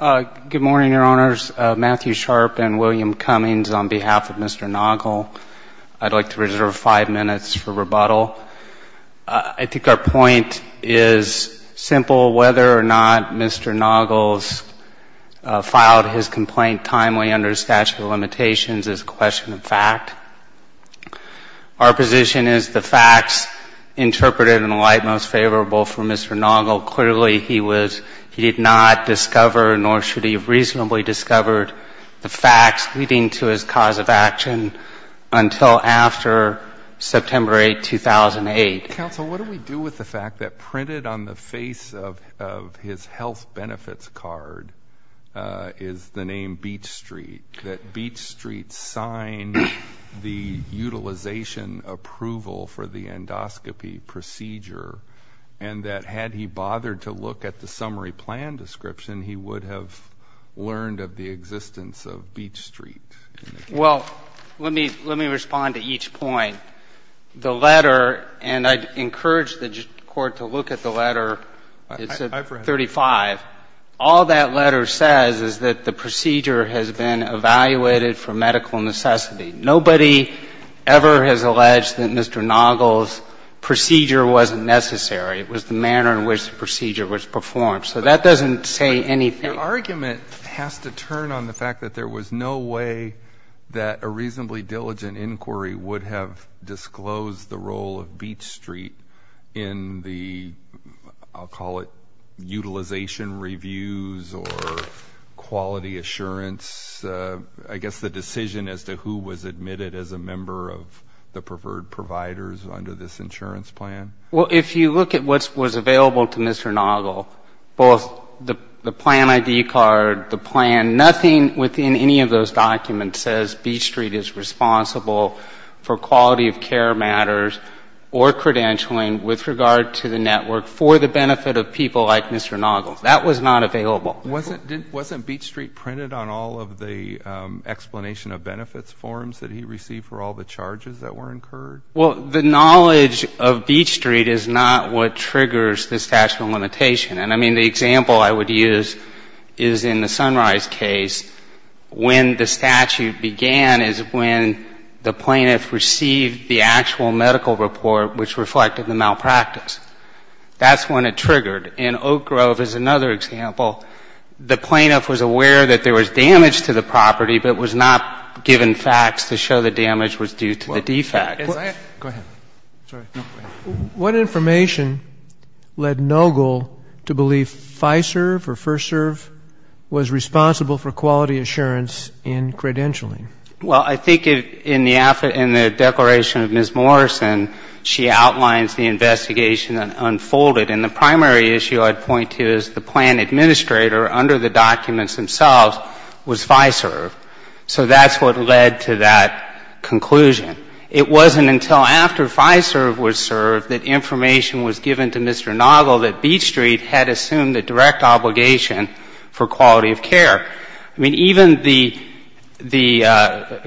Good morning, Your Honors. Matthew Sharp and William Cummings on behalf of Mr. Nogle. I'd like to reserve five minutes for rebuttal. I think our point is simple. Whether or not Mr. Nogle's filed his complaint timely under the statute of limitations is a question of fact. Our position is the facts interpreted in light most favorable for Mr. Nogle. Clearly, he did not discover, nor should he have reasonably discovered, the facts leading to his cause of action until after September 8, 2008. Counsel, what do we do with the fact that printed on the face of his health benefits card is the name Beech Street, that Beech Street signed the utilization approval for the endoscopy procedure, and that had he bothered to look at the summary plan description, he would have learned of the existence of Beech Street? Well, let me respond to each point. The letter, and I'd encourage the Court to look at the letter. It's at 35. All that letter says is that the procedure has been evaluated for medical necessity. Nobody ever has alleged that Mr. Nogle's procedure wasn't necessary. It was the manner in which the procedure was performed. So that doesn't say anything. Your argument has to turn on the fact that there was no way that a reasonably diligent inquiry would have disclosed the role of Beech Street in the, I'll call it, utilization reviews or quality assurance. I guess the decision as to who was admitted as a member of the preferred providers under this insurance plan. Well, if you look at what was available to Mr. Nogle, both the plan ID card, the plan, nothing within any of those documents says Beech Street is responsible for quality of care matters or credentialing with regard to the network for the benefit of people like Mr. Nogle. That was not available. Wasn't Beech Street printed on all of the explanation of benefits forms that he received for all the charges that were incurred? Well, the knowledge of Beech Street is not what triggers the statute of limitation. And, I mean, the example I would use is in the Sunrise case. When the statute began is when the plaintiff received the actual medical report which reflected the malpractice. That's when it triggered. In Oak Grove is another example. The plaintiff was aware that there was damage to the property but was not given facts to show the damage was due to the defect. Go ahead. What information led Nogle to believe FISERV or FirstServ was responsible for quality assurance in credentialing? Well, I think in the declaration of Ms. Morrison, she outlines the investigation that unfolded. And the primary issue I'd point to is the plan administrator under the documents themselves was FISERV. So that's what led to that conclusion. It wasn't until after FISERV was served that information was given to Mr. Nogle that Beech Street had assumed a direct obligation for quality of care. I mean, even the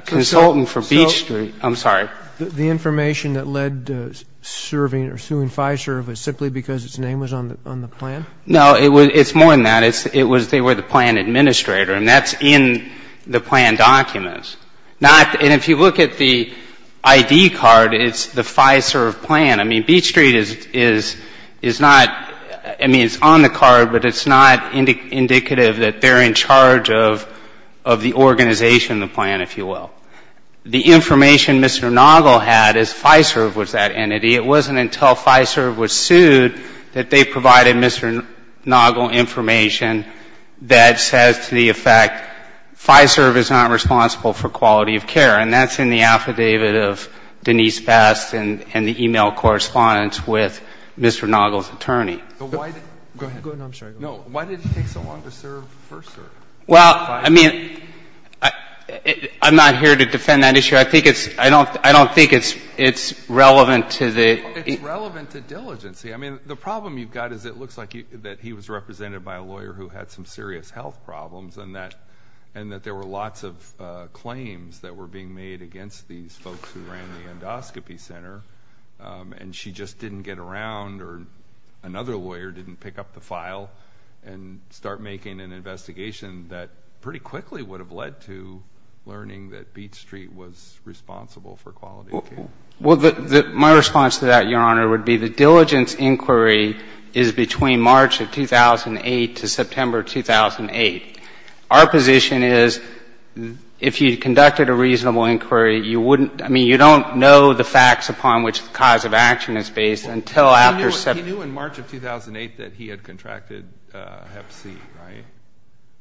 consultant for Beech Street. I'm sorry. The information that led to serving or suing FISERV was simply because its name was on the plan? No. It's more than that. It was they were the plan administrator. And that's in the plan documents. Not, and if you look at the ID card, it's the FISERV plan. I mean, Beech Street is not, I mean, it's on the card, but it's not indicative that they're in charge of the organization of the plan, if you will. The information Mr. Nogle had is FISERV was that entity. It wasn't until FISERV was sued that they provided Mr. Nogle information that says to the effect FISERV is not responsible for quality of care. And that's in the affidavit of Denise Best and the e-mail correspondence with Mr. Nogle's attorney. Go ahead. No, I'm sorry. Why did it take so long to serve first? Well, I mean, I'm not here to defend that issue. I think it's, I don't think it's relevant to the. It's relevant to diligency. I mean, the problem you've got is it looks like that he was represented by a lawyer who had some serious health problems and that there were lots of claims that were being made against these folks who ran the endoscopy center. And she just didn't get around or another lawyer didn't pick up the file and start making an investigation that pretty quickly would have led to learning that Beach Street was responsible for quality of care. Well, my response to that, Your Honor, would be the diligence inquiry is between March of 2008 to September 2008. Our position is if you conducted a reasonable inquiry, you wouldn't, I mean, you don't know the facts upon which the cause of action is based until after September. He knew in March of 2008 that he had contracted hep C, right?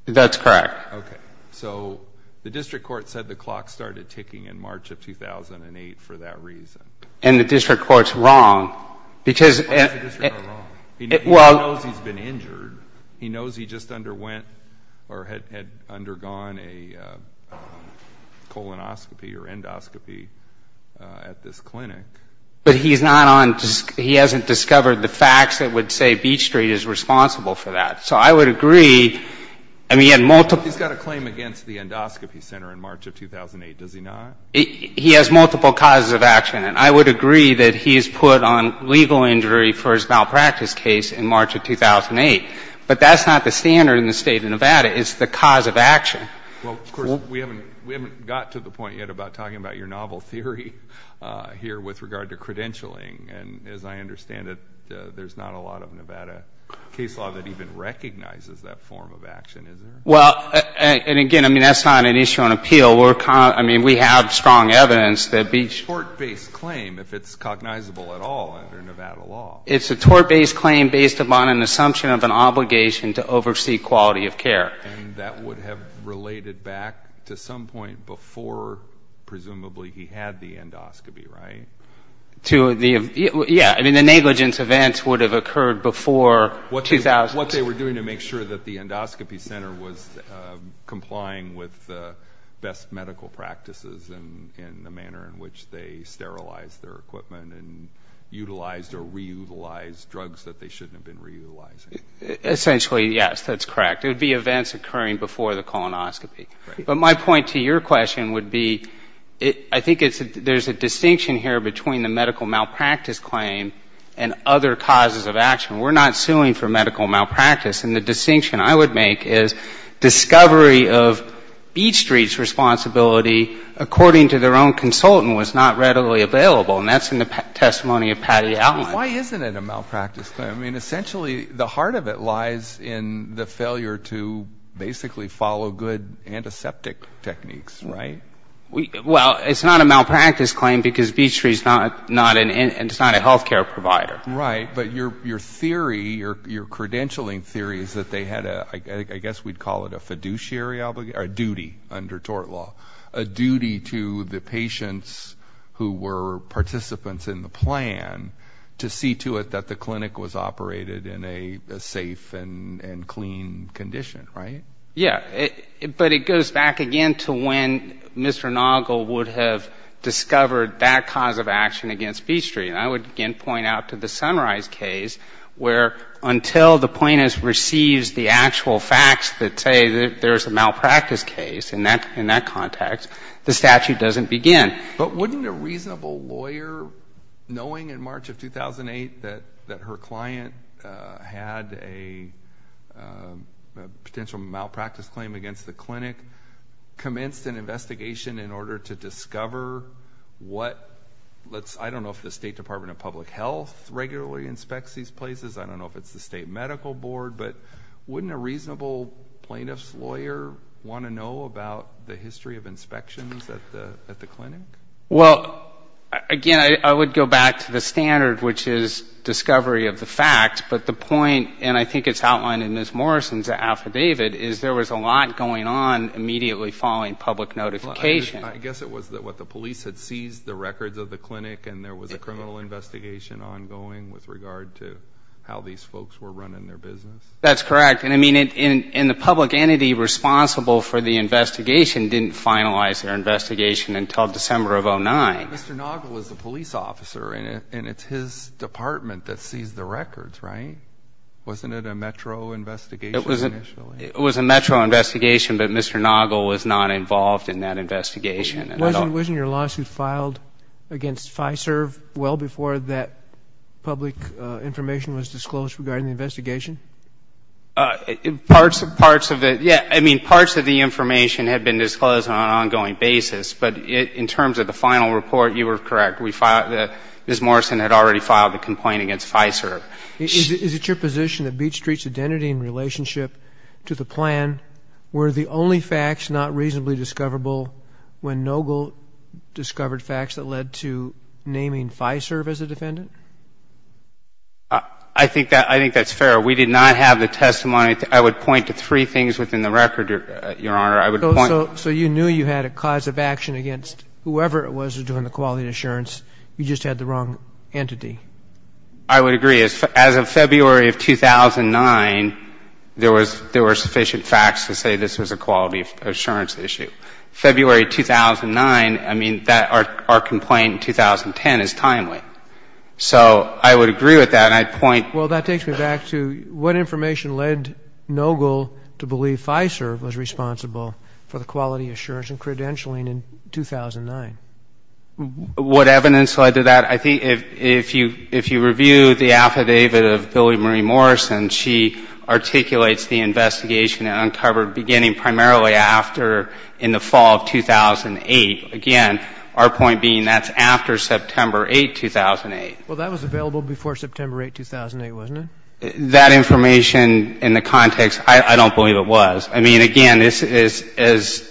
That's correct. Okay. So the district court said the clock started ticking in March of 2008 for that reason. And the district court's wrong because. Why is the district court wrong? Well. He knows he's been injured. He knows he just underwent or had undergone a colonoscopy or endoscopy at this clinic. But he's not on, he hasn't discovered the facts that would say Beach Street is responsible for that. So I would agree, I mean, he had multiple. He's got a claim against the endoscopy center in March of 2008, does he not? He has multiple causes of action. And I would agree that he's put on legal injury for his malpractice case in March of 2008. But that's not the standard in the State of Nevada is the cause of action. Well, of course, we haven't got to the point yet about talking about your novel theory here with regard to credentialing. And as I understand it, there's not a lot of Nevada case law that even recognizes that form of action, is there? Well, and again, I mean, that's not an issue on appeal. I mean, we have strong evidence that Beach. It's a tort-based claim if it's cognizable at all under Nevada law. It's a tort-based claim based upon an assumption of an obligation to oversee quality of care. And that would have related back to some point before presumably he had the endoscopy, right? Yeah. I mean, the negligence events would have occurred before 2000. What they were doing to make sure that the endoscopy center was complying with the best medical practices in the manner in which they sterilized their equipment and utilized or reutilized drugs that they shouldn't have been reutilizing. Essentially, yes, that's correct. It would be events occurring before the colonoscopy. But my point to your question would be I think there's a distinction here between the medical malpractice claim and other causes of action. We're not suing for medical malpractice. And the distinction I would make is discovery of Beach Street's responsibility, according to their own consultant, was not readily available. And that's in the testimony of Patty Allen. Why isn't it a malpractice claim? I mean, essentially, the heart of it lies in the failure to basically follow good antiseptic techniques, right? Well, it's not a malpractice claim because Beach Street is not a health care provider. Right. But your theory, your credentialing theory is that they had a, I guess we'd call it a fiduciary obligation, or a duty under tort law, a duty to the patients who were participants in the plan to see to it that the clinic was operated in a safe and clean condition, right? Yeah. But it goes back again to when Mr. Noggle would have discovered that cause of action against Beach Street. And I would again point out to the Sunrise case where until the plaintiff receives the actual facts that say that there's a malpractice case in that context, the statute doesn't begin. But wouldn't a reasonable lawyer, knowing in March of 2008 that her client had a potential malpractice claim against the clinic, commence an investigation in order to discover what, I don't know if the State Department of Public Health regularly inspects these places, I don't know if it's the State Medical Board, but wouldn't a reasonable plaintiff's lawyer want to know about the history of inspections at the clinic? Well, again, I would go back to the standard, which is discovery of the facts. But the point, and I think it's outlined in Ms. Morrison's affidavit, is there was a lot going on immediately following public notification. I guess it was what, the police had seized the records of the clinic and there was a criminal investigation ongoing with regard to how these folks were running their business? That's correct. And, I mean, the public entity responsible for the investigation didn't finalize their investigation until December of 2009. Mr. Noggle was the police officer, and it's his department that seized the records, right? Wasn't it a Metro investigation initially? It was a Metro investigation, but Mr. Noggle was not involved in that investigation. Wasn't your lawsuit filed against FISERV well before that public information was disclosed regarding the investigation? Parts of it, yeah. I mean, parts of the information had been disclosed on an ongoing basis. But in terms of the final report, you were correct. Ms. Morrison had already filed a complaint against FISERV. Is it your position that Beach Street's identity and relationship to the plan were the only facts not reasonably discoverable when Noggle discovered facts that led to naming FISERV as a defendant? I think that's fair. We did not have the testimony. I would point to three things within the record, Your Honor. So you knew you had a cause of action against whoever it was that was doing the quality assurance. You just had the wrong entity. I would agree. As of February of 2009, there were sufficient facts to say this was a quality assurance issue. February 2009, I mean, our complaint in 2010 is timely. So I would agree with that, and I'd point. Well, that takes me back to what information led Noggle to believe FISERV was responsible for the quality assurance and credentialing in 2009? What evidence led to that? I think if you review the affidavit of Billy Marie Morrison, she articulates the investigation uncovered beginning primarily after in the fall of 2008. Again, our point being that's after September 8, 2008. Well, that was available before September 8, 2008, wasn't it? That information in the context, I don't believe it was. I mean, again, just as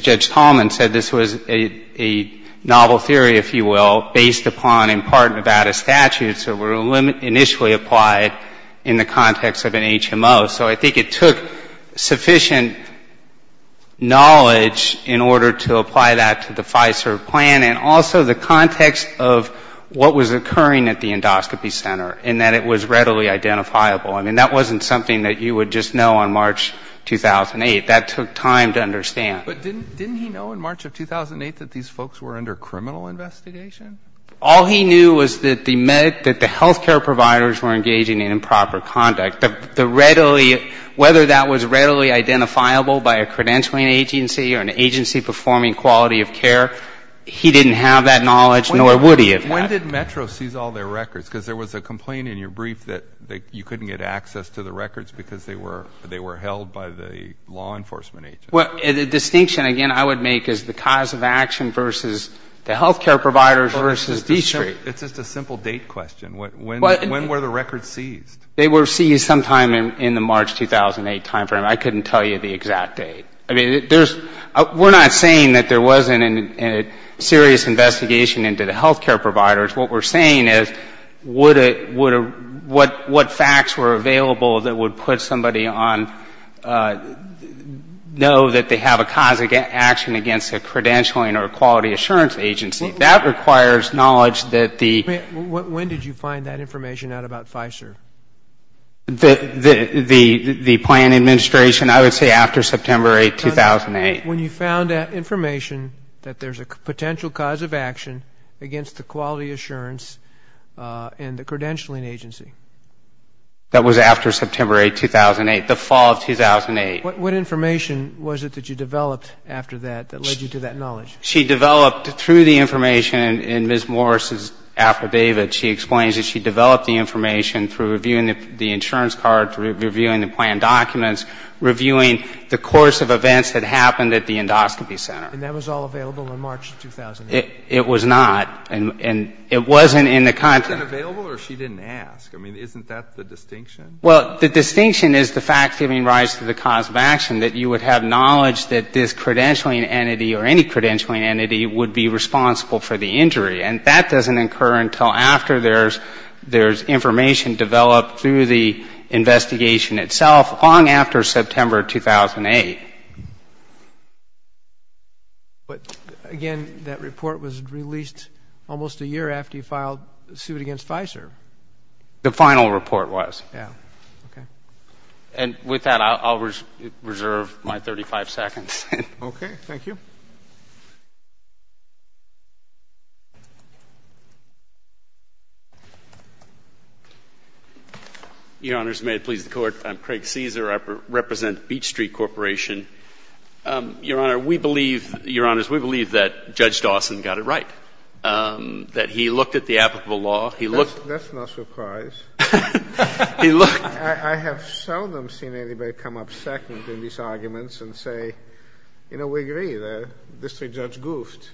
Judge Tallman said, this was a novel theory, if you will, based upon in part Nevada statutes that were initially applied in the context of an HMO. So I think it took sufficient knowledge in order to apply that to the FISERV plan and also the context of what was occurring at the endoscopy center and that it was readily identifiable. I mean, that wasn't something that you would just know on March 2008. That took time to understand. But didn't he know in March of 2008 that these folks were under criminal investigation? All he knew was that the health care providers were engaging in improper conduct. Whether that was readily identifiable by a credentialing agency or an agency performing quality of care, he didn't have that knowledge, nor would he have. When did Metro seize all their records? Because there was a complaint in your brief that you couldn't get access to the records because they were held by the law enforcement agency. Well, the distinction, again, I would make is the cause of action versus the health care providers versus the district. It's just a simple date question. When were the records seized? They were seized sometime in the March 2008 timeframe. I couldn't tell you the exact date. We're not saying that there wasn't a serious investigation into the health care providers. What we're saying is what facts were available that would put somebody on, know that they have a cause of action against a credentialing or a quality assurance agency. That requires knowledge that the When did you find that information out about FISER? The plan administration, I would say after September 8, 2008. When you found that information that there's a potential cause of action against the quality assurance and the credentialing agency. That was after September 8, 2008, the fall of 2008. What information was it that you developed after that that led you to that knowledge? She developed through the information in Ms. Morris's affidavit. She explains that she developed the information through reviewing the insurance card, through reviewing the plan documents, reviewing the course of events that happened at the endoscopy center. And that was all available in March 2008? It was not. And it wasn't in the contract. It wasn't available or she didn't ask? I mean, isn't that the distinction? Well, the distinction is the fact giving rise to the cause of action, that you would have knowledge that this credentialing entity or any credentialing entity would be responsible for the injury. And that doesn't occur until after there's information developed through the investigation itself, long after September 2008. But, again, that report was released almost a year after you filed suit against FISER? The final report was. Yeah. Okay. And with that, I'll reserve my 35 seconds. Okay. Thank you. Your Honors, may it please the Court. I'm Craig Cesar. I represent Beach Street Corporation. Your Honor, we believe, Your Honors, we believe that Judge Dawson got it right, that he looked at the applicable law. That's no surprise. He looked. I have seldom seen anybody come up second in these arguments and say, you know, we agree that District Judge goofed.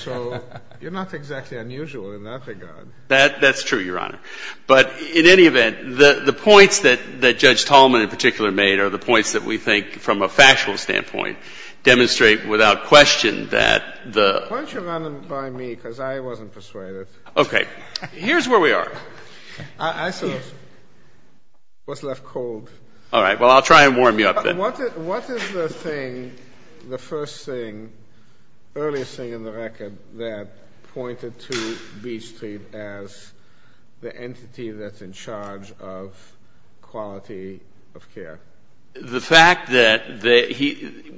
So you're not exactly unusual in that regard. That's true, Your Honor. But in any event, the points that Judge Tallman in particular made are the points that we think, from a factual standpoint, demonstrate without question that the — Why don't you run them by me, because I wasn't persuaded. Okay. Here's where we are. I saw what's left cold. All right. Well, I'll try and warm you up then. What is the thing, the first thing, earliest thing in the record that pointed to Beach Street as the entity that's in charge of quality of care? The fact that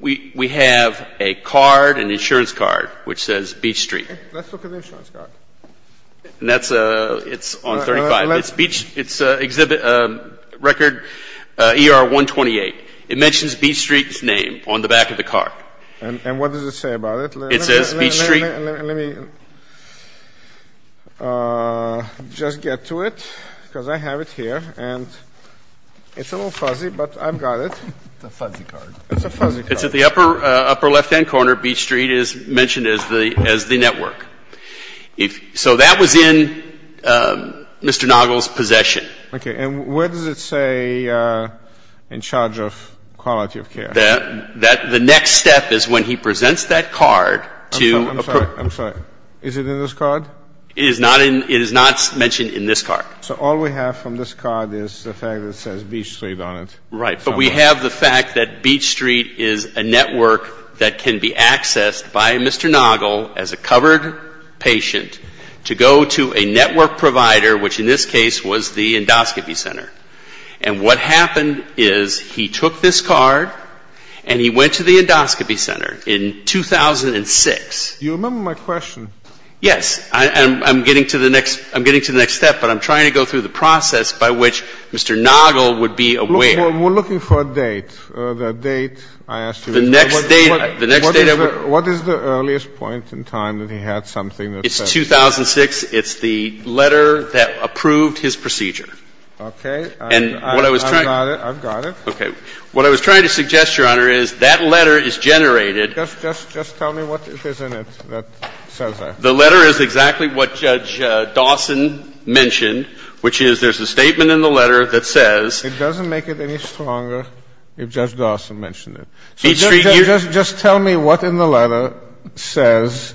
we have a card, an insurance card, which says Beach Street. Let's look at the insurance card. It's on 35. It's exhibit record ER-128. It mentions Beach Street's name on the back of the card. And what does it say about it? It says Beach Street. Let me just get to it, because I have it here. And it's a little fuzzy, but I've got it. It's a fuzzy card. It's a fuzzy card. It's at the upper left-hand corner. Beach Street is mentioned as the network. So that was in Mr. Nagel's possession. Okay. And where does it say in charge of quality of care? The next step is when he presents that card to — I'm sorry. I'm sorry. Is it in this card? It is not mentioned in this card. So all we have from this card is the fact that it says Beach Street on it. Right. But we have the fact that Beach Street is a network that can be accessed by Mr. Nagel as a covered patient to go to a network provider, which in this case was the endoscopy center. And what happened is he took this card and he went to the endoscopy center in 2006. You remember my question. Yes. I'm getting to the next step, but I'm trying to go through the process by which Mr. Nagel would be aware. We're looking for a date. The date I asked you. The next date — What is the earliest point in time that he had something that says — It's 2006. It's the letter that approved his procedure. Okay. I've got it. I've got it. Okay. What I was trying to suggest, Your Honor, is that letter is generated — Just tell me what it is in it that says that. The letter is exactly what Judge Dawson mentioned, which is there's a statement in the letter that says — It doesn't make it any stronger if Judge Dawson mentioned it. So just tell me what in the letter says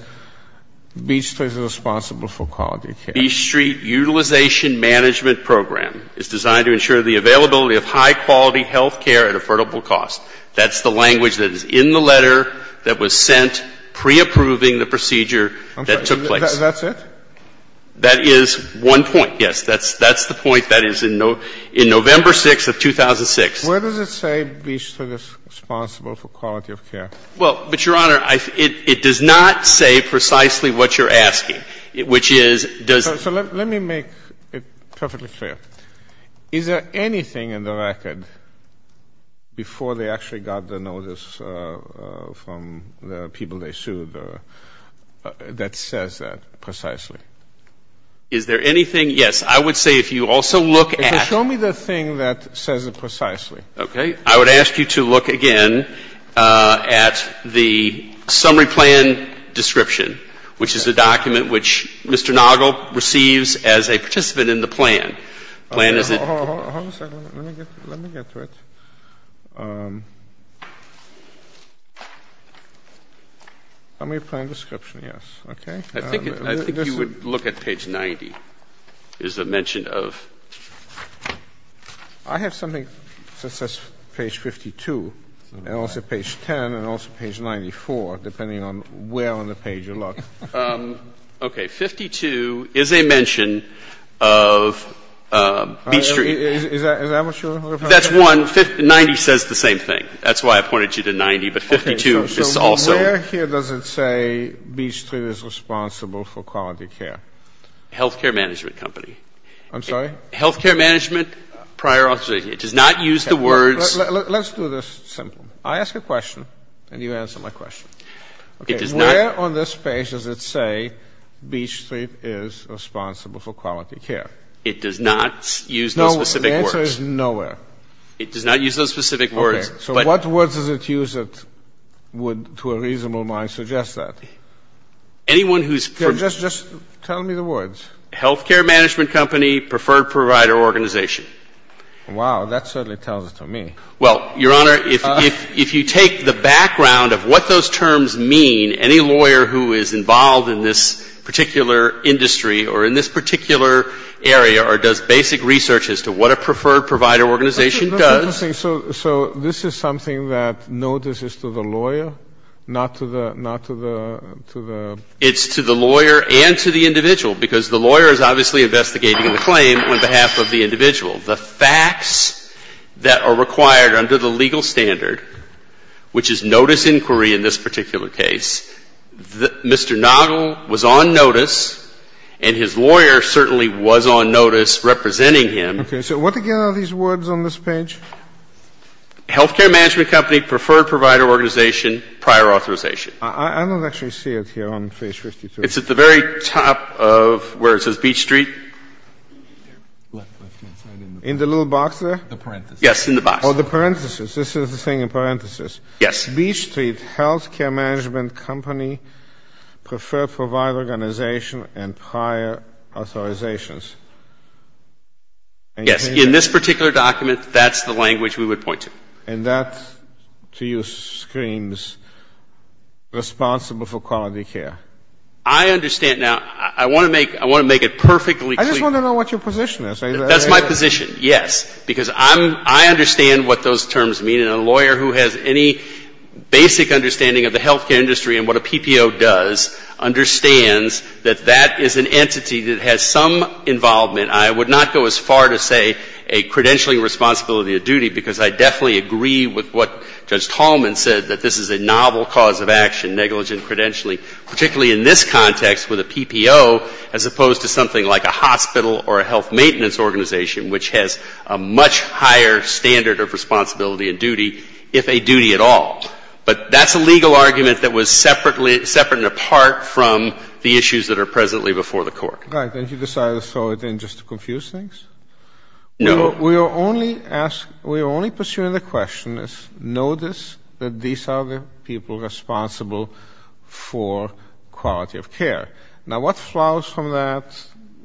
Beach Street is responsible for quality care. Beach Street Utilization Management Program is designed to ensure the availability of high-quality health care at affordable cost. That's the language that is in the letter that was sent pre-approving the procedure that took place. That's it? That is one point, yes. That's the point that is in November 6th of 2006. Where does it say Beach Street is responsible for quality of care? Well, but, Your Honor, it does not say precisely what you're asking, which is — So let me make it perfectly clear. Is there anything in the record before they actually got the notice from the people they sued that says that precisely? Is there anything? Yes. I would say if you also look at — Show me the thing that says it precisely. Okay. I would ask you to look again at the summary plan description, which is a document which Mr. Nagel receives as a participant in the plan. Hold on a second. Let me get to it. Summary plan description, yes. Okay. I think you would look at page 90 is the mention of — I have something that says page 52 and also page 10 and also page 94, depending on where on the page you look. Okay. 52 is a mention of Beach Street. Is that what you're referring to? That's one. 90 says the same thing. That's why I pointed you to 90, but 52 is also — Where here does it say Beach Street is responsible for quality care? Health care management company. I'm sorry? Health care management, prior authorization. It does not use the words — Let's do this simple. I ask a question, and you answer my question. Where on this page does it say Beach Street is responsible for quality care? It does not use those specific words. No, the answer is nowhere. It does not use those specific words. Okay. So what words does it use that would, to a reasonable mind, suggest that? Anyone who's — Just tell me the words. Health care management company, preferred provider organization. Wow. That certainly tells it to me. Well, Your Honor, if you take the background of what those terms mean, any lawyer who is involved in this particular industry or in this particular area or does basic research as to what a preferred provider organization does — So this is something that notice is to the lawyer, not to the — It's to the lawyer and to the individual, because the lawyer is obviously investigating the claim on behalf of the individual. The facts that are required under the legal standard, which is notice inquiry in this particular case, Mr. Noggle was on notice, and his lawyer certainly was on notice representing him. Okay. So what, again, are these words on this page? Health care management company, preferred provider organization, prior authorization. I don't actually see it here on page 52. It's at the very top of where it says Beach Street. In the little box there? The parentheses. Yes, in the box. Oh, the parentheses. This is the thing in parentheses. Yes. Beach Street, health care management company, preferred provider organization, and prior authorizations. Yes. In this particular document, that's the language we would point to. And that, to use screams, responsible for quality care. I understand. Now, I want to make it perfectly clear. I just want to know what your position is. That's my position, yes. Because I understand what those terms mean, and a lawyer who has any basic understanding of the health care industry and what a PPO does understands that that is an entity that has some involvement. I would not go as far to say a credentialing responsibility of duty because I definitely agree with what Judge Tallman said, that this is a novel cause of action, negligent credentialing, particularly in this context with a PPO as opposed to something like a hospital or a health maintenance organization, which has a much higher standard of responsibility and duty, if a duty at all. But that's a legal argument that was separate and apart from the issues that are presently before the court. Right. And you decided to throw it in just to confuse things? No. We are only pursuing the question, notice that these are the people responsible for quality of care. Now, what flows from that,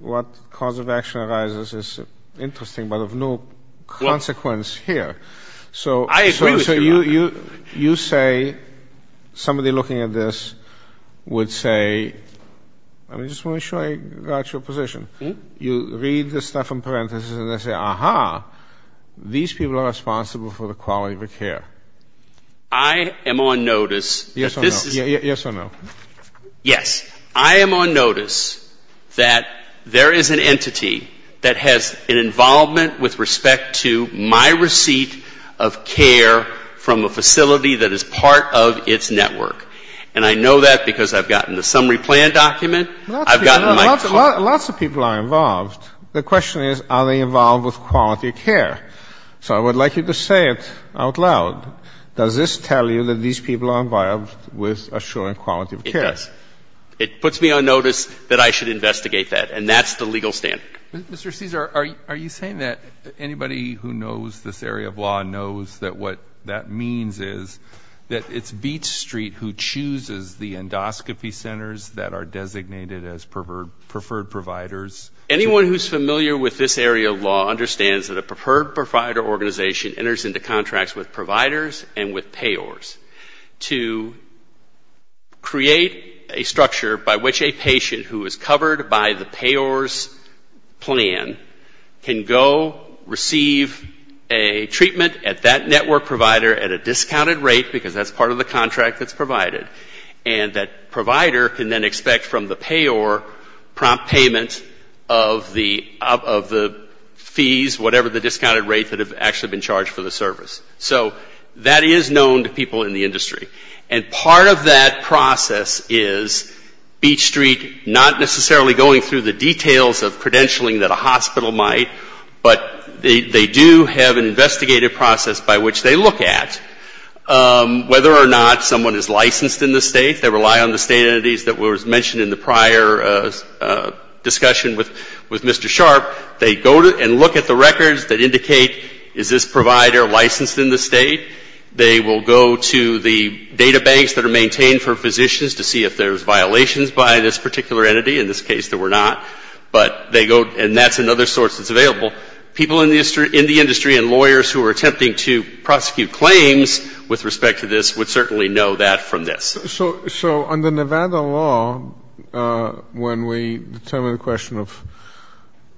what cause of action arises is interesting, but of no consequence here. I agree with you on that. So you say somebody looking at this would say, I just want to make sure I got your position. You read the stuff in parenthesis and then say, aha, these people are responsible for the quality of care. I am on notice that this is Yes or no. Yes or no. Yes. I am on notice that there is an entity that has an involvement with respect to my receipt of care from a facility that is part of its network. And I know that because I've gotten the summary plan document. I've gotten my call. Lots of people are involved. The question is, are they involved with quality of care? So I would like you to say it out loud. Does this tell you that these people are involved with assuring quality of care? It does. It puts me on notice that I should investigate that. And that's the legal standard. Mr. Caesar, are you saying that anybody who knows this area of law knows that what that means is that it's Beach Street who chooses the endoscopy centers that are designated as preferred providers? Anyone who is familiar with this area of law understands that a preferred provider organization enters into contracts with providers and with payors to create a structure by which a patient who is covered by the payor's plan can go receive a treatment at that network provider at a discounted rate because that's part of the contract that's provided. And that provider can then expect from the payor prompt payment of the fees, whatever the discounted rate that have actually been charged for the service. And part of that process is Beach Street not necessarily going through the details of credentialing that a hospital might, but they do have an investigative process by which they look at whether or not someone is licensed in the state. They rely on the state entities that were mentioned in the prior discussion with Mr. Sharp. They go and look at the records that indicate is this provider licensed in the state. They will go to the database that are maintained for physicians to see if there's violations by this particular entity. In this case, there were not. But they go and that's another source that's available. People in the industry and lawyers who are attempting to prosecute claims with respect to this would certainly know that from this. So under Nevada law, when we determine the question of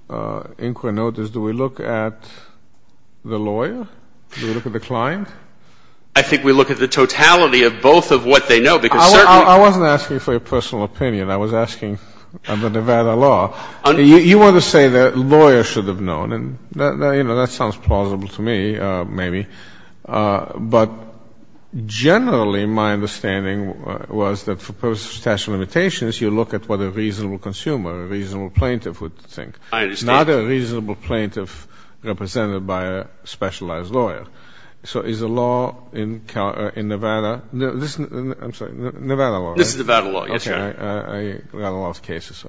inquinotus, do we look at the lawyer? Do we look at the client? I think we look at the totality of both of what they know, because certainly you can't. I wasn't asking for your personal opinion. I was asking under Nevada law. You want to say that lawyers should have known. And, you know, that sounds plausible to me, maybe. But generally my understanding was that for purposes of statute of limitations, you look at what a reasonable consumer, a reasonable plaintiff would think. I understand. Not a reasonable plaintiff represented by a specialized lawyer. So is the law in Nevada? I'm sorry, Nevada law, right? This is Nevada law, yes, Your Honor. Okay. I got a lot of cases.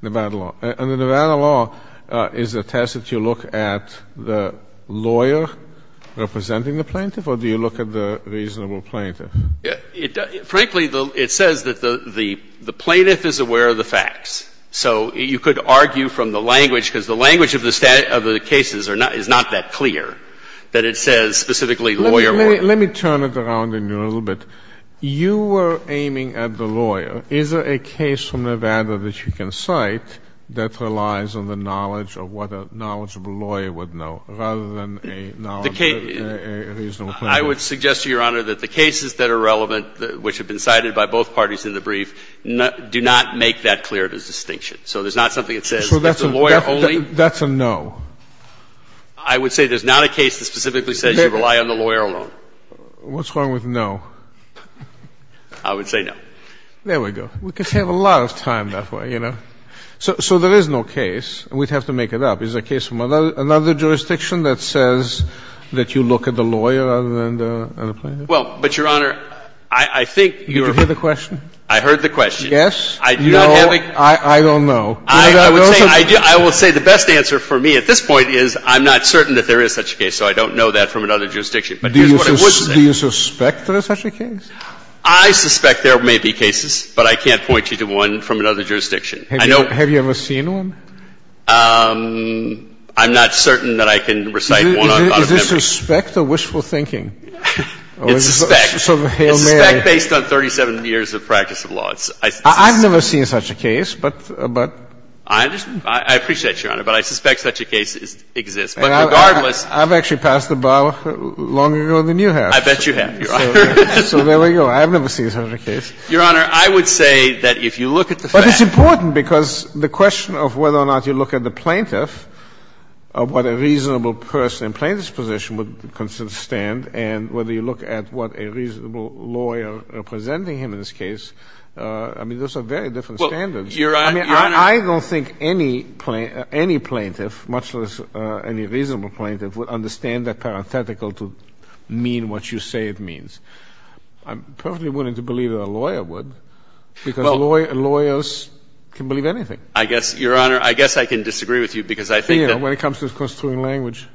Nevada law. Under Nevada law, is it a test that you look at the lawyer representing the plaintiff, or do you look at the reasonable plaintiff? Frankly, it says that the plaintiff is aware of the facts. So you could argue from the language, because the language of the cases is not that clear, that it says specifically lawyer more. Let me turn it around a little bit. You were aiming at the lawyer. Is there a case from Nevada that you can cite that relies on the knowledge of what a knowledgeable lawyer would know, rather than a knowledge of a reasonable plaintiff? I would suggest to Your Honor that the cases that are relevant, which have been cited by both parties in the brief, do not make that clear of a distinction. So there's not something that says that's a lawyer only? That's a no. I would say there's not a case that specifically says you rely on the lawyer alone. What's wrong with no? I would say no. There we go. We could have a lot of time that way, you know. So there is no case. We'd have to make it up. Is there a case from another jurisdiction that says that you look at the lawyer rather than the plaintiff? Well, but, Your Honor, I think you're right. Did you hear the question? I heard the question. Yes. No. I don't know. I would say the best answer for me at this point is I'm not certain that there is such a case, so I don't know that from another jurisdiction. But here's what I would say. Do you suspect there is such a case? I suspect there may be cases, but I can't point you to one from another jurisdiction. Have you ever seen one? I'm not certain that I can recite one out of memory. Is this respect or wishful thinking? It's respect. So the Hail Mary. It's respect based on 37 years of practice of law. I've never seen such a case, but. I appreciate it, Your Honor, but I suspect such a case exists. But regardless. I've actually passed the bar longer ago than you have. I bet you have, Your Honor. So there we go. I have never seen such a case. Your Honor, I would say that if you look at the facts. But it's important because the question of whether or not you look at the plaintiff of what a reasonable person in plaintiff's position would consider to stand and whether you look at what a reasonable lawyer representing him in this case, I mean, those are very different standards. Well, Your Honor. I mean, I don't think any plaintiff, much less any reasonable plaintiff, would understand that parenthetical to mean what you say it means. I'm perfectly willing to believe that a lawyer would because lawyers can believe anything. I guess, Your Honor, I guess I can disagree with you because I think that. You know, when it comes to construing language.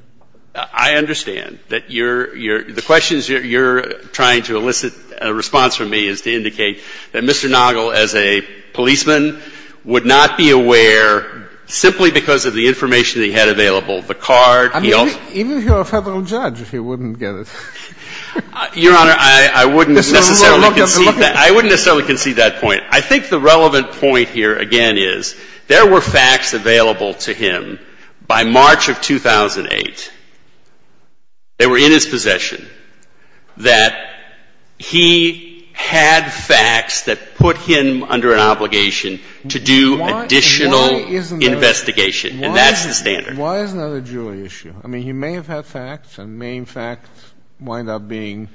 I understand that you're the questions you're trying to elicit a response from me is to indicate that Mr. Noggle as a policeman would not be aware simply because of the information he had available. The card. Even if you're a Federal judge, he wouldn't get it. Your Honor, I wouldn't necessarily concede that. I wouldn't necessarily concede that point. I think the relevant point here, again, is there were facts available to him by March of 2008. They were in his possession that he had facts that put him under an obligation to do additional investigation. And that's the standard. Why is that a jury issue? I mean, he may have had facts and main facts wind up being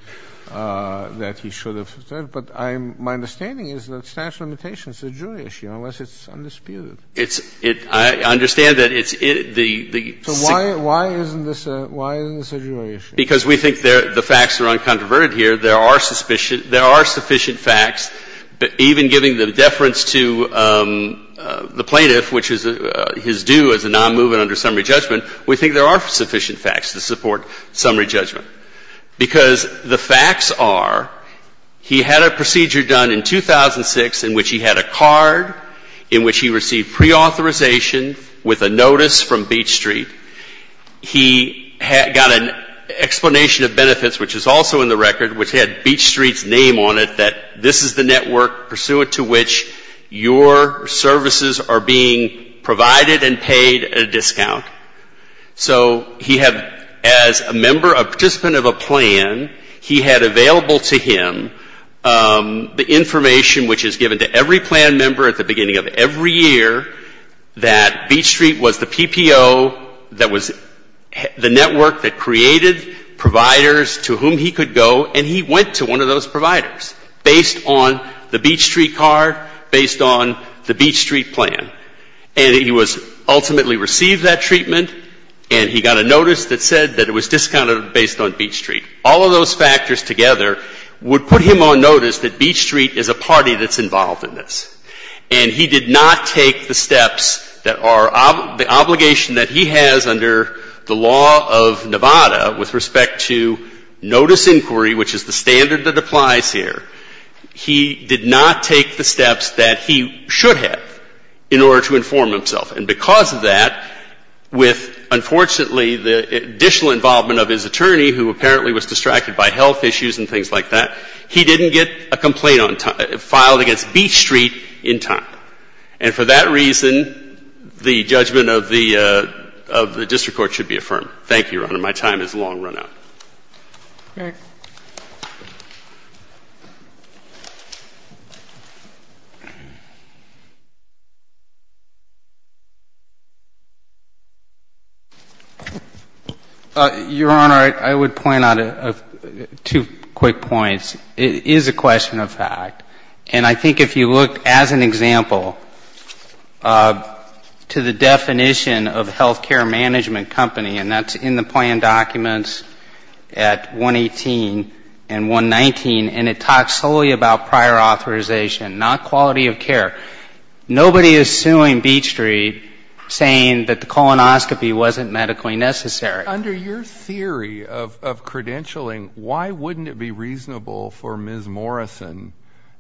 that he should have said, but I'm my understanding is that statute of limitations is a jury issue unless it's undisputed. It's it. I understand that it's the. So why? Why isn't this? Why isn't this a jury issue? Because we think the facts are uncontroverted here. There are sufficient. There are sufficient facts. But even giving the deference to the plaintiff, which is his due as a nonmovement under summary judgment, we think there are sufficient facts to support summary judgment, because the facts are he had a procedure done in 2006 in which he had a card in which he received preauthorization with a notice from Beach Street. He got an explanation of benefits, which is also in the record, which had Beach Street as the network pursuant to which your services are being provided and paid at a discount. So he had as a member, a participant of a plan, he had available to him the information which is given to every plan member at the beginning of every year that Beach Street was the PPO that was the network that created providers to whom he could go. And he went to one of those providers based on the Beach Street card, based on the Beach Street plan. And he was ultimately received that treatment, and he got a notice that said that it was discounted based on Beach Street. All of those factors together would put him on notice that Beach Street is a party that's involved in this. And he did not take the steps that are the obligation that he has under the law of disinquiry, which is the standard that applies here, he did not take the steps that he should have in order to inform himself. And because of that, with, unfortunately, the additional involvement of his attorney who apparently was distracted by health issues and things like that, he didn't get a complaint filed against Beach Street in time. And for that reason, the judgment of the district court should be affirmed. Thank you, Your Honor. My time has long run out. Okay. Your Honor, I would point out two quick points. It is a question of fact. And I think if you look, as an example, to the definition of health care management company, and that's in the plan documents at 118 and 119, and it talks solely about prior authorization, not quality of care. Nobody is suing Beach Street saying that the colonoscopy wasn't medically necessary. Under your theory of credentialing, why wouldn't it be reasonable for Ms. Morrison,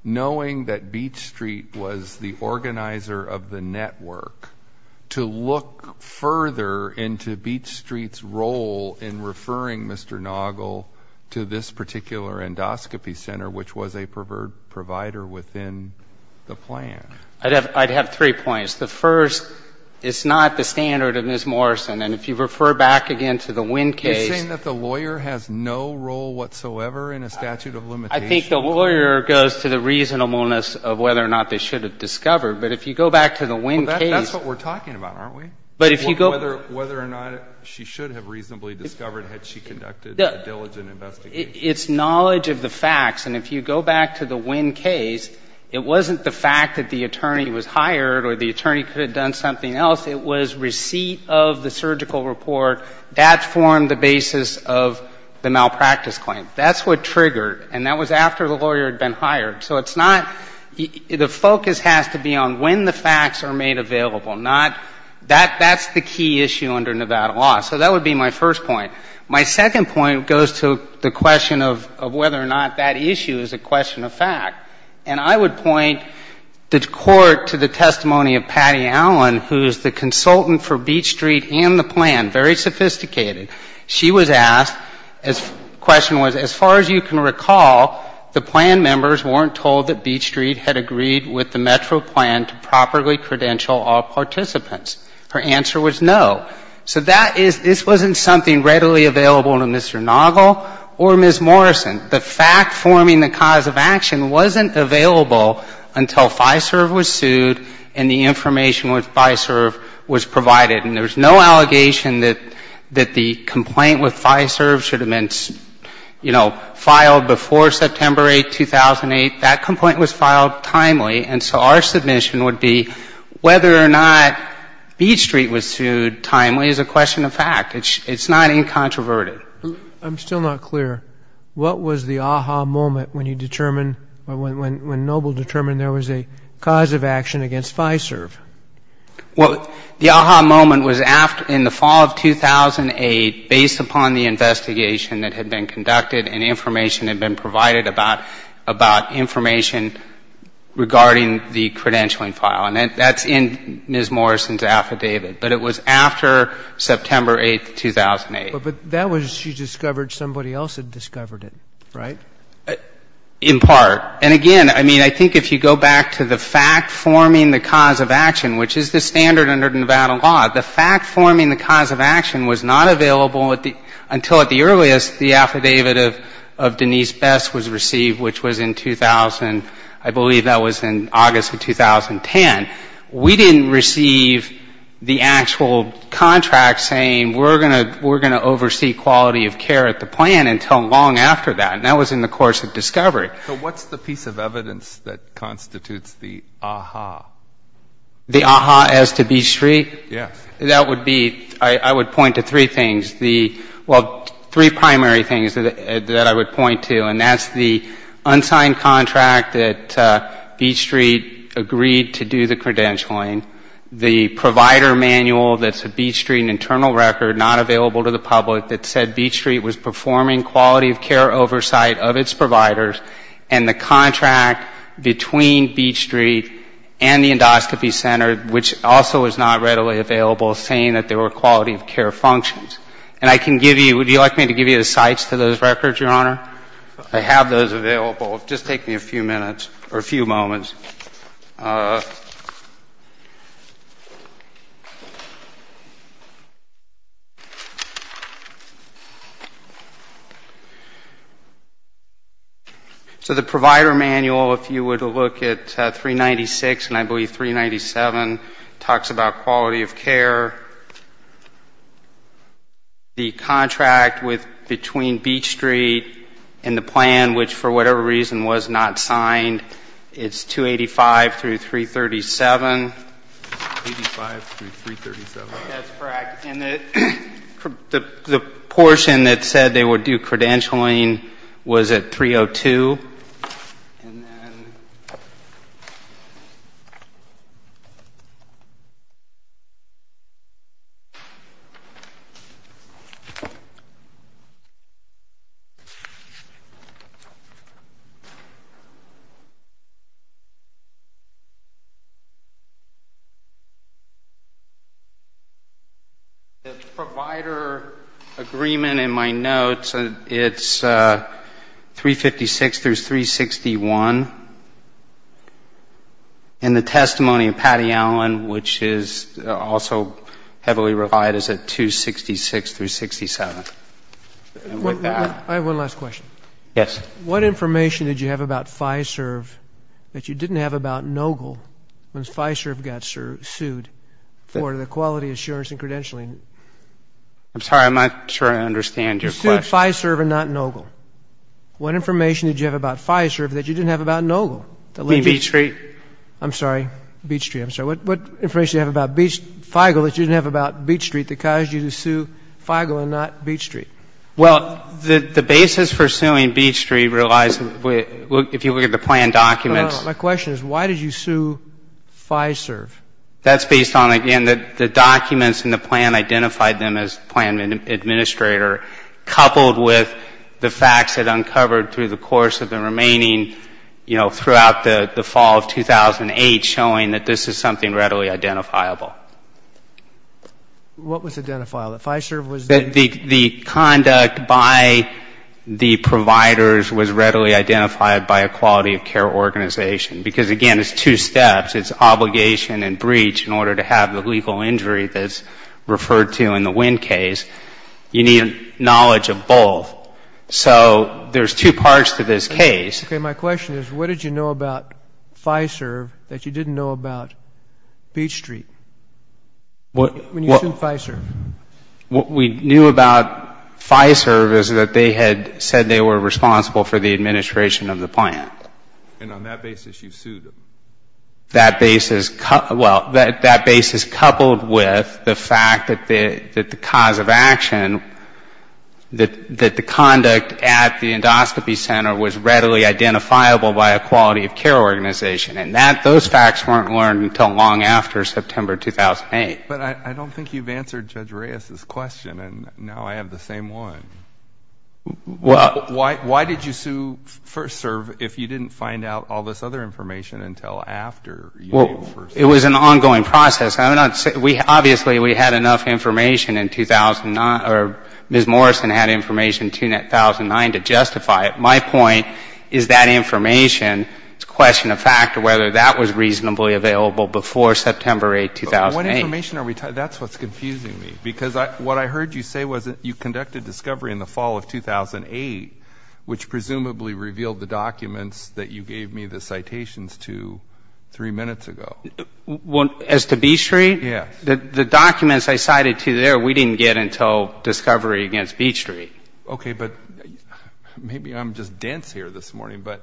knowing that Beach Street was the organizer of the network, to look further into Beach Street's role in referring Mr. Noggle to this particular endoscopy center, which was a provider within the plan? I'd have three points. The first, it's not the standard of Ms. Morrison. And if you refer back again to the Wynn case — You're saying that the lawyer has no role whatsoever in a statute of limitations? I think the lawyer goes to the reasonableness of whether or not they should have discovered. But if you go back to the Wynn case — Well, that's what we're talking about, aren't we? Whether or not she should have reasonably discovered had she conducted a diligent investigation. It's knowledge of the facts. And if you go back to the Wynn case, it wasn't the fact that the attorney was hired or the attorney could have done something else. It was receipt of the surgical report. That formed the basis of the malpractice claim. That's what triggered. And that was after the lawyer had been hired. So it's not — the focus has to be on when the facts are made available, not — that's the key issue under Nevada law. So that would be my first point. My second point goes to the question of whether or not that issue is a question of fact. And I would point the Court to the testimony of Patty Allen, who is the consultant for Beach Street and the plan, very sophisticated. She was asked — the question was, as far as you can recall, the plan members weren't told that Beach Street had agreed with the Metro plan to properly credential all participants. Her answer was no. So that is — this wasn't something readily available to Mr. Noggle or Ms. Morrison. The fact forming the cause of action wasn't available until FISERV was sued and the information with FISERV was provided. And there was no allegation that the complaint with FISERV should have been, you know, filed before September 8, 2008. That complaint was filed timely. And so our submission would be whether or not Beach Street was sued timely is a question of fact. It's not incontroverted. I'm still not clear. What was the aha moment when you determined — when Noggle determined there was a cause of action against FISERV? Well, the aha moment was after — in the fall of 2008, based upon the investigation that had been conducted and information had been provided about — about information regarding the credentialing file. And that's in Ms. Morrison's affidavit. But it was after September 8, 2008. But that was — she discovered somebody else had discovered it, right? In part. And again, I mean, I think if you go back to the fact forming the cause of action, which is the standard under Nevada law, the fact forming the cause of action was not available until at the earliest the affidavit of Denise Best was received, which was in 2000. I believe that was in August of 2010. We didn't receive the actual contract saying we're going to oversee quality of care at the plan until long after that. And that was in the course of discovery. Right. So what's the piece of evidence that constitutes the aha? The aha as to Beach Street? Yes. That would be — I would point to three things. The — well, three primary things that I would point to. And that's the unsigned contract that Beach Street agreed to do the credentialing, the provider manual that's a Beach Street internal record not available to the public that said oversight of its providers, and the contract between Beach Street and the endoscopy center, which also is not readily available, saying that there were quality of care functions. And I can give you — would you like me to give you the cites to those records, Your Honor? I have those available. Just take me a few minutes or a few moments. So the provider manual, if you were to look at 396 and I believe 397, talks about quality of care. The contract with — between Beach Street and the plan, which for whatever reason was not signed, it's 285 through 337. Eighty-five through 337. That's correct. And the portion that said they would do credentialing was at 302. And then — The provider agreement in my notes, it's 356 through 361. And the testimony of Patty Allen, which is also heavily refined, is at 266 through 67. I have one last question. Yes. What information did you have about FISERV that you didn't have about NOGIL when FISERV got sued for the quality assurance and credentialing? I'm sorry. I'm not sure I understand your question. You sued FISERV and not NOGIL. What information did you have about FISERV that you didn't have about NOGIL? You mean Beach Street? I'm sorry. Beach Street. I'm sorry. What information did you have about FIGL that you didn't have about Beach Street that caused you to sue FIGL and not Beach Street? Well, the basis for suing Beach Street relies, if you look at the plan documents — My question is, why did you sue FISERV? That's based on, again, the documents in the plan identified them as plan administrator, coupled with the facts it uncovered through the course of the remaining, you know, throughout the fall of 2008 showing that this is something readily identifiable. What was identifiable? The conduct by the providers was readily identified by a quality of care organization. Because, again, it's two steps. It's obligation and breach in order to have the legal injury that's referred to in the WIND case. You need knowledge of both. So there's two parts to this case. Okay. My question is, what did you know about FISERV that you didn't know about Beach Street when you sued FISERV? What we knew about FISERV is that they had said they were responsible for the administration of the plan. And on that basis you sued them? That basis — well, that basis coupled with the fact that the cause of action, that the conduct at the endoscopy center was readily identifiable by a quality of care organization. And that — those facts weren't learned until long after September 2008. But I don't think you've answered Judge Reyes's question. And now I have the same one. Why did you sue FISERV if you didn't find out all this other information until after you sued FISERV? It was an ongoing process. Obviously we had enough information in 2009 — or Ms. Morrison had information in 2009 to justify it. My point is that information, it's a question of fact whether that was reasonably available before September 8, 2008. What information are we talking — that's what's confusing me. Because what I heard you say was that you conducted discovery in the fall of 2008, which presumably revealed the documents that you gave me the citations to three minutes ago. As to Beach Street? Yes. The documents I cited to you there, we didn't get until discovery against Beach Street. Okay. Maybe I'm just dense here this morning, but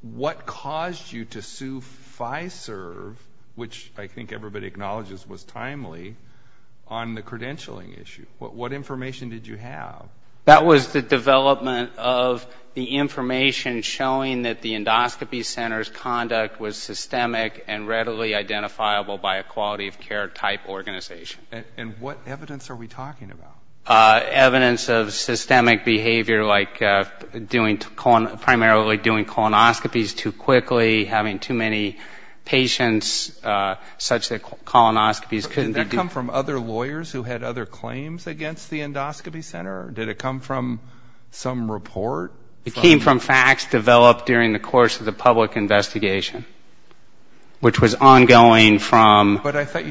what caused you to sue FISERV, which I think everybody acknowledges was timely, on the credentialing issue? What information did you have? That was the development of the information showing that the endoscopy center's conduct was systemic and readily identifiable by a quality of care type organization. And what evidence are we talking about? Evidence of systemic behavior like doing — primarily doing colonoscopies too quickly, having too many patients such that colonoscopies couldn't be — Did that come from other lawyers who had other claims against the endoscopy center? Did it come from some report? It came from facts developed during the course of the public investigation, which was ongoing from — But the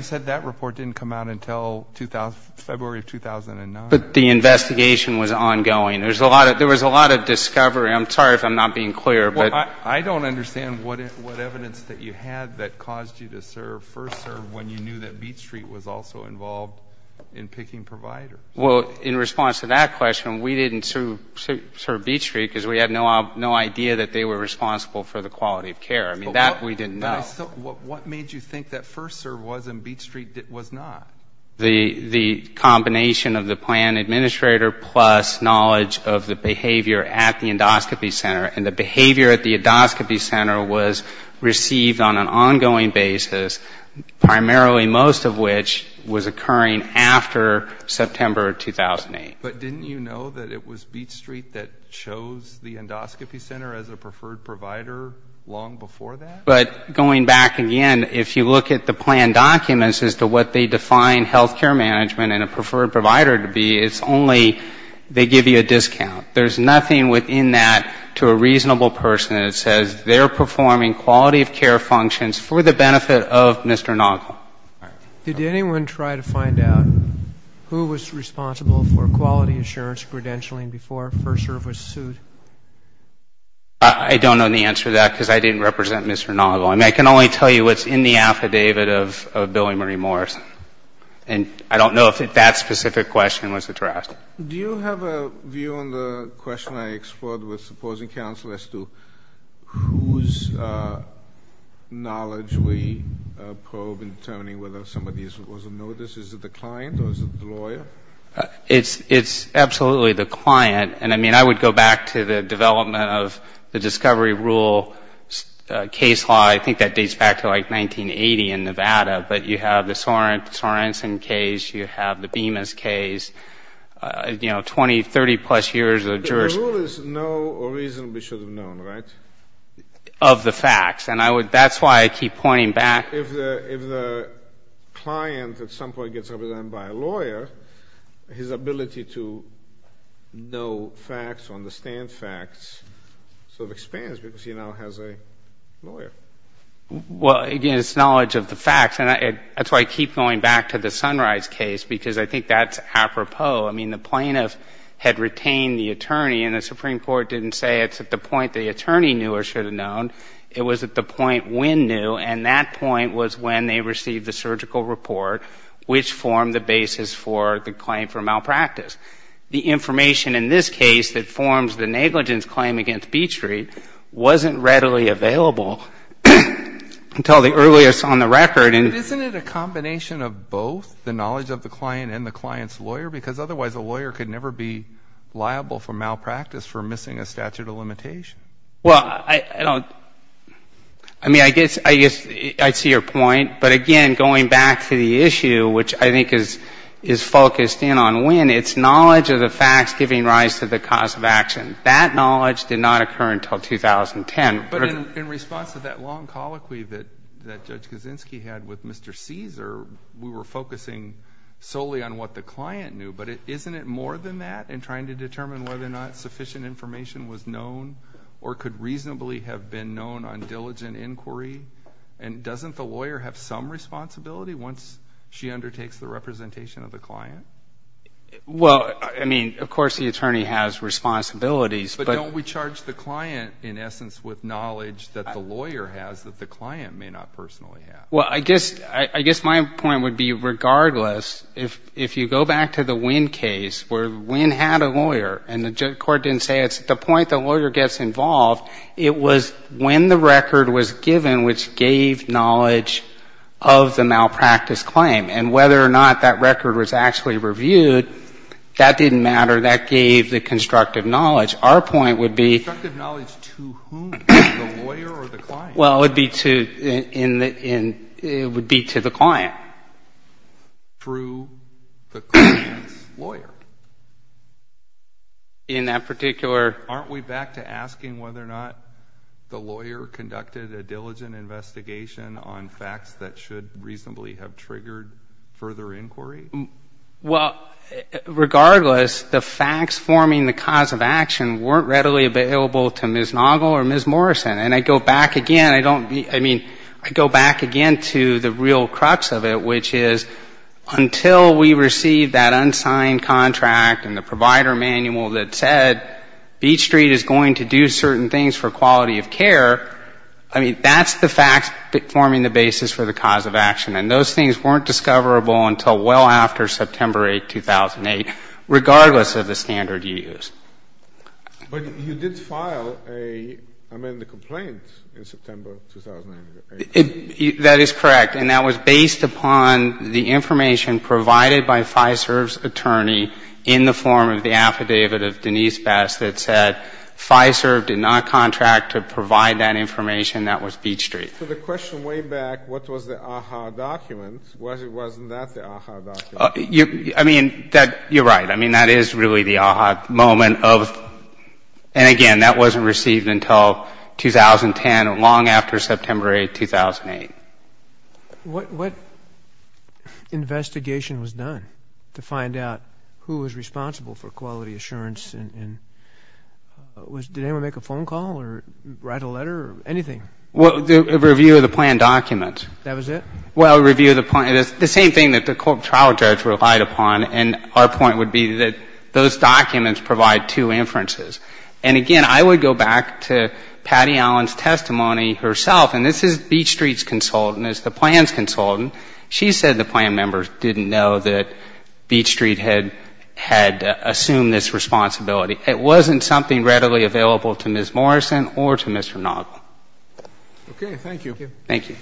investigation was ongoing. There was a lot of discovery. I'm sorry if I'm not being clear, but — Well, I don't understand what evidence that you had that caused you to sue FISERV when you knew that Beach Street was also involved in picking providers. Well, in response to that question, we didn't sue Beach Street because we had no idea that they were responsible for the quality of care. I mean, that we didn't know. But what made you think that FISERV was and Beach Street was not? The combination of the plan administrator plus knowledge of the behavior at the endoscopy center. And the behavior at the endoscopy center was received on an ongoing basis, primarily most of which was occurring after September 2008. But didn't you know that it was Beach Street that chose the endoscopy center as a preferred provider long before that? But going back again, if you look at the plan documents as to what they define health care management and a preferred provider to be, it's only they give you a discount. There's nothing within that to a reasonable person that says they're performing quality of care functions for the benefit of Mr. Nagel. Did anyone try to find out who was responsible for quality assurance credentialing before FISERV was sued? I don't know the answer to that because I didn't represent Mr. Nagel. I mean, I can only tell you what's in the affidavit of Billy Murray Morris. And I don't know if that specific question was addressed. Do you have a view on the question I explored with supposing counsel as to whose knowledge we probe in determining whether somebody was a notice? Well, I mean, if you go back to the development of the discovery rule case law, I think that dates back to like 1980 in Nevada. But you have the Sorensen case, you have the Bemis case, you know, 20, 30 plus years of jurors. The rule is no reason we should have known, right? Of the facts. And that's why I keep pointing back. If the client at some point gets represented by a lawyer, his ability to know facts or understand facts sort of expands because he now has a lawyer. Well, again, it's knowledge of the facts. And that's why I keep going back to the Sunrise case because I think that's apropos. I mean, the plaintiff had retained the attorney, and the Supreme Court didn't say it's at the point the attorney knew or should have known. It was at the point when knew, and that point was when they received the surgical report, which formed the basis for the claim for malpractice. The information in this case that forms the negligence claim against Beach Street wasn't readily available until the earliest on the record. But isn't it a combination of both, the knowledge of the client and the client's lawyer? Because otherwise a lawyer could never be liable for malpractice for missing a statute of limitation. Well, I don't — I mean, I guess I see your point. But again, going back to the issue, which I think is focused in on when, it's knowledge of the facts giving rise to the cause of action. That knowledge did not occur until 2010. But in response to that long colloquy that Judge Kaczynski had with Mr. Caesar, we were focusing solely on what the client knew. But isn't it more than that in trying to determine whether or not sufficient information was known or could reasonably have been known on diligent inquiry? And doesn't the lawyer have some responsibility once she undertakes the representation of the client? Well, I mean, of course the attorney has responsibilities, but — But what about the knowledge that the lawyer has that the client may not personally have? Well, I guess my point would be regardless, if you go back to the Winn case where Winn had a lawyer and the court didn't say it's at the point the lawyer gets involved, it was when the record was given which gave knowledge of the malpractice claim. And whether or not that record was actually reviewed, that didn't matter. That gave the constructive knowledge. Our point would be — Constructive knowledge to whom? The lawyer or the client? Well, it would be to the client. Through the client's lawyer? In that particular — Aren't we back to asking whether or not the lawyer conducted a diligent investigation on facts that should reasonably have triggered further inquiry? Well, regardless, the facts forming the cause of action weren't readily available to Ms. Noggle or Ms. Morrison. And I go back again, I don't — I mean, I go back again to the real crux of it, which is until we receive that unsigned contract and the provider manual that said Beach Street is going to do certain things for quality of care, I mean, that's the facts forming the basis for the cause of action. And those things weren't discoverable until well after September 8, 2008, regardless of the standard you use. But you did file a — I mean, the complaint in September 2008. That is correct. And that was based upon the information provided by FISERV's attorney in the form of the affidavit of Denise Best that said FISERV did not contract to provide that information. That was Beach Street. So the question way back, what was the AHA document, wasn't that the AHA document? I mean, that — you're right. I mean, that is really the AHA moment of — and again, that wasn't received until 2010 or long after September 8, 2008. What investigation was done to find out who was responsible for quality assurance? Did anyone make a phone call or write a letter or anything? Well, a review of the plan documents. That was it? Well, a review of the — the same thing that the court trial judge relied upon, and our point would be that those documents provide two inferences. And again, I would go back to Patty Allen's testimony herself, and this is Beach Street's consultant, it's the plan's consultant. She said the plan members didn't know that Beach Street had assumed this responsibility. It wasn't something readily available to Ms. Morrison or to Mr. Nagle. Okay. Thank you.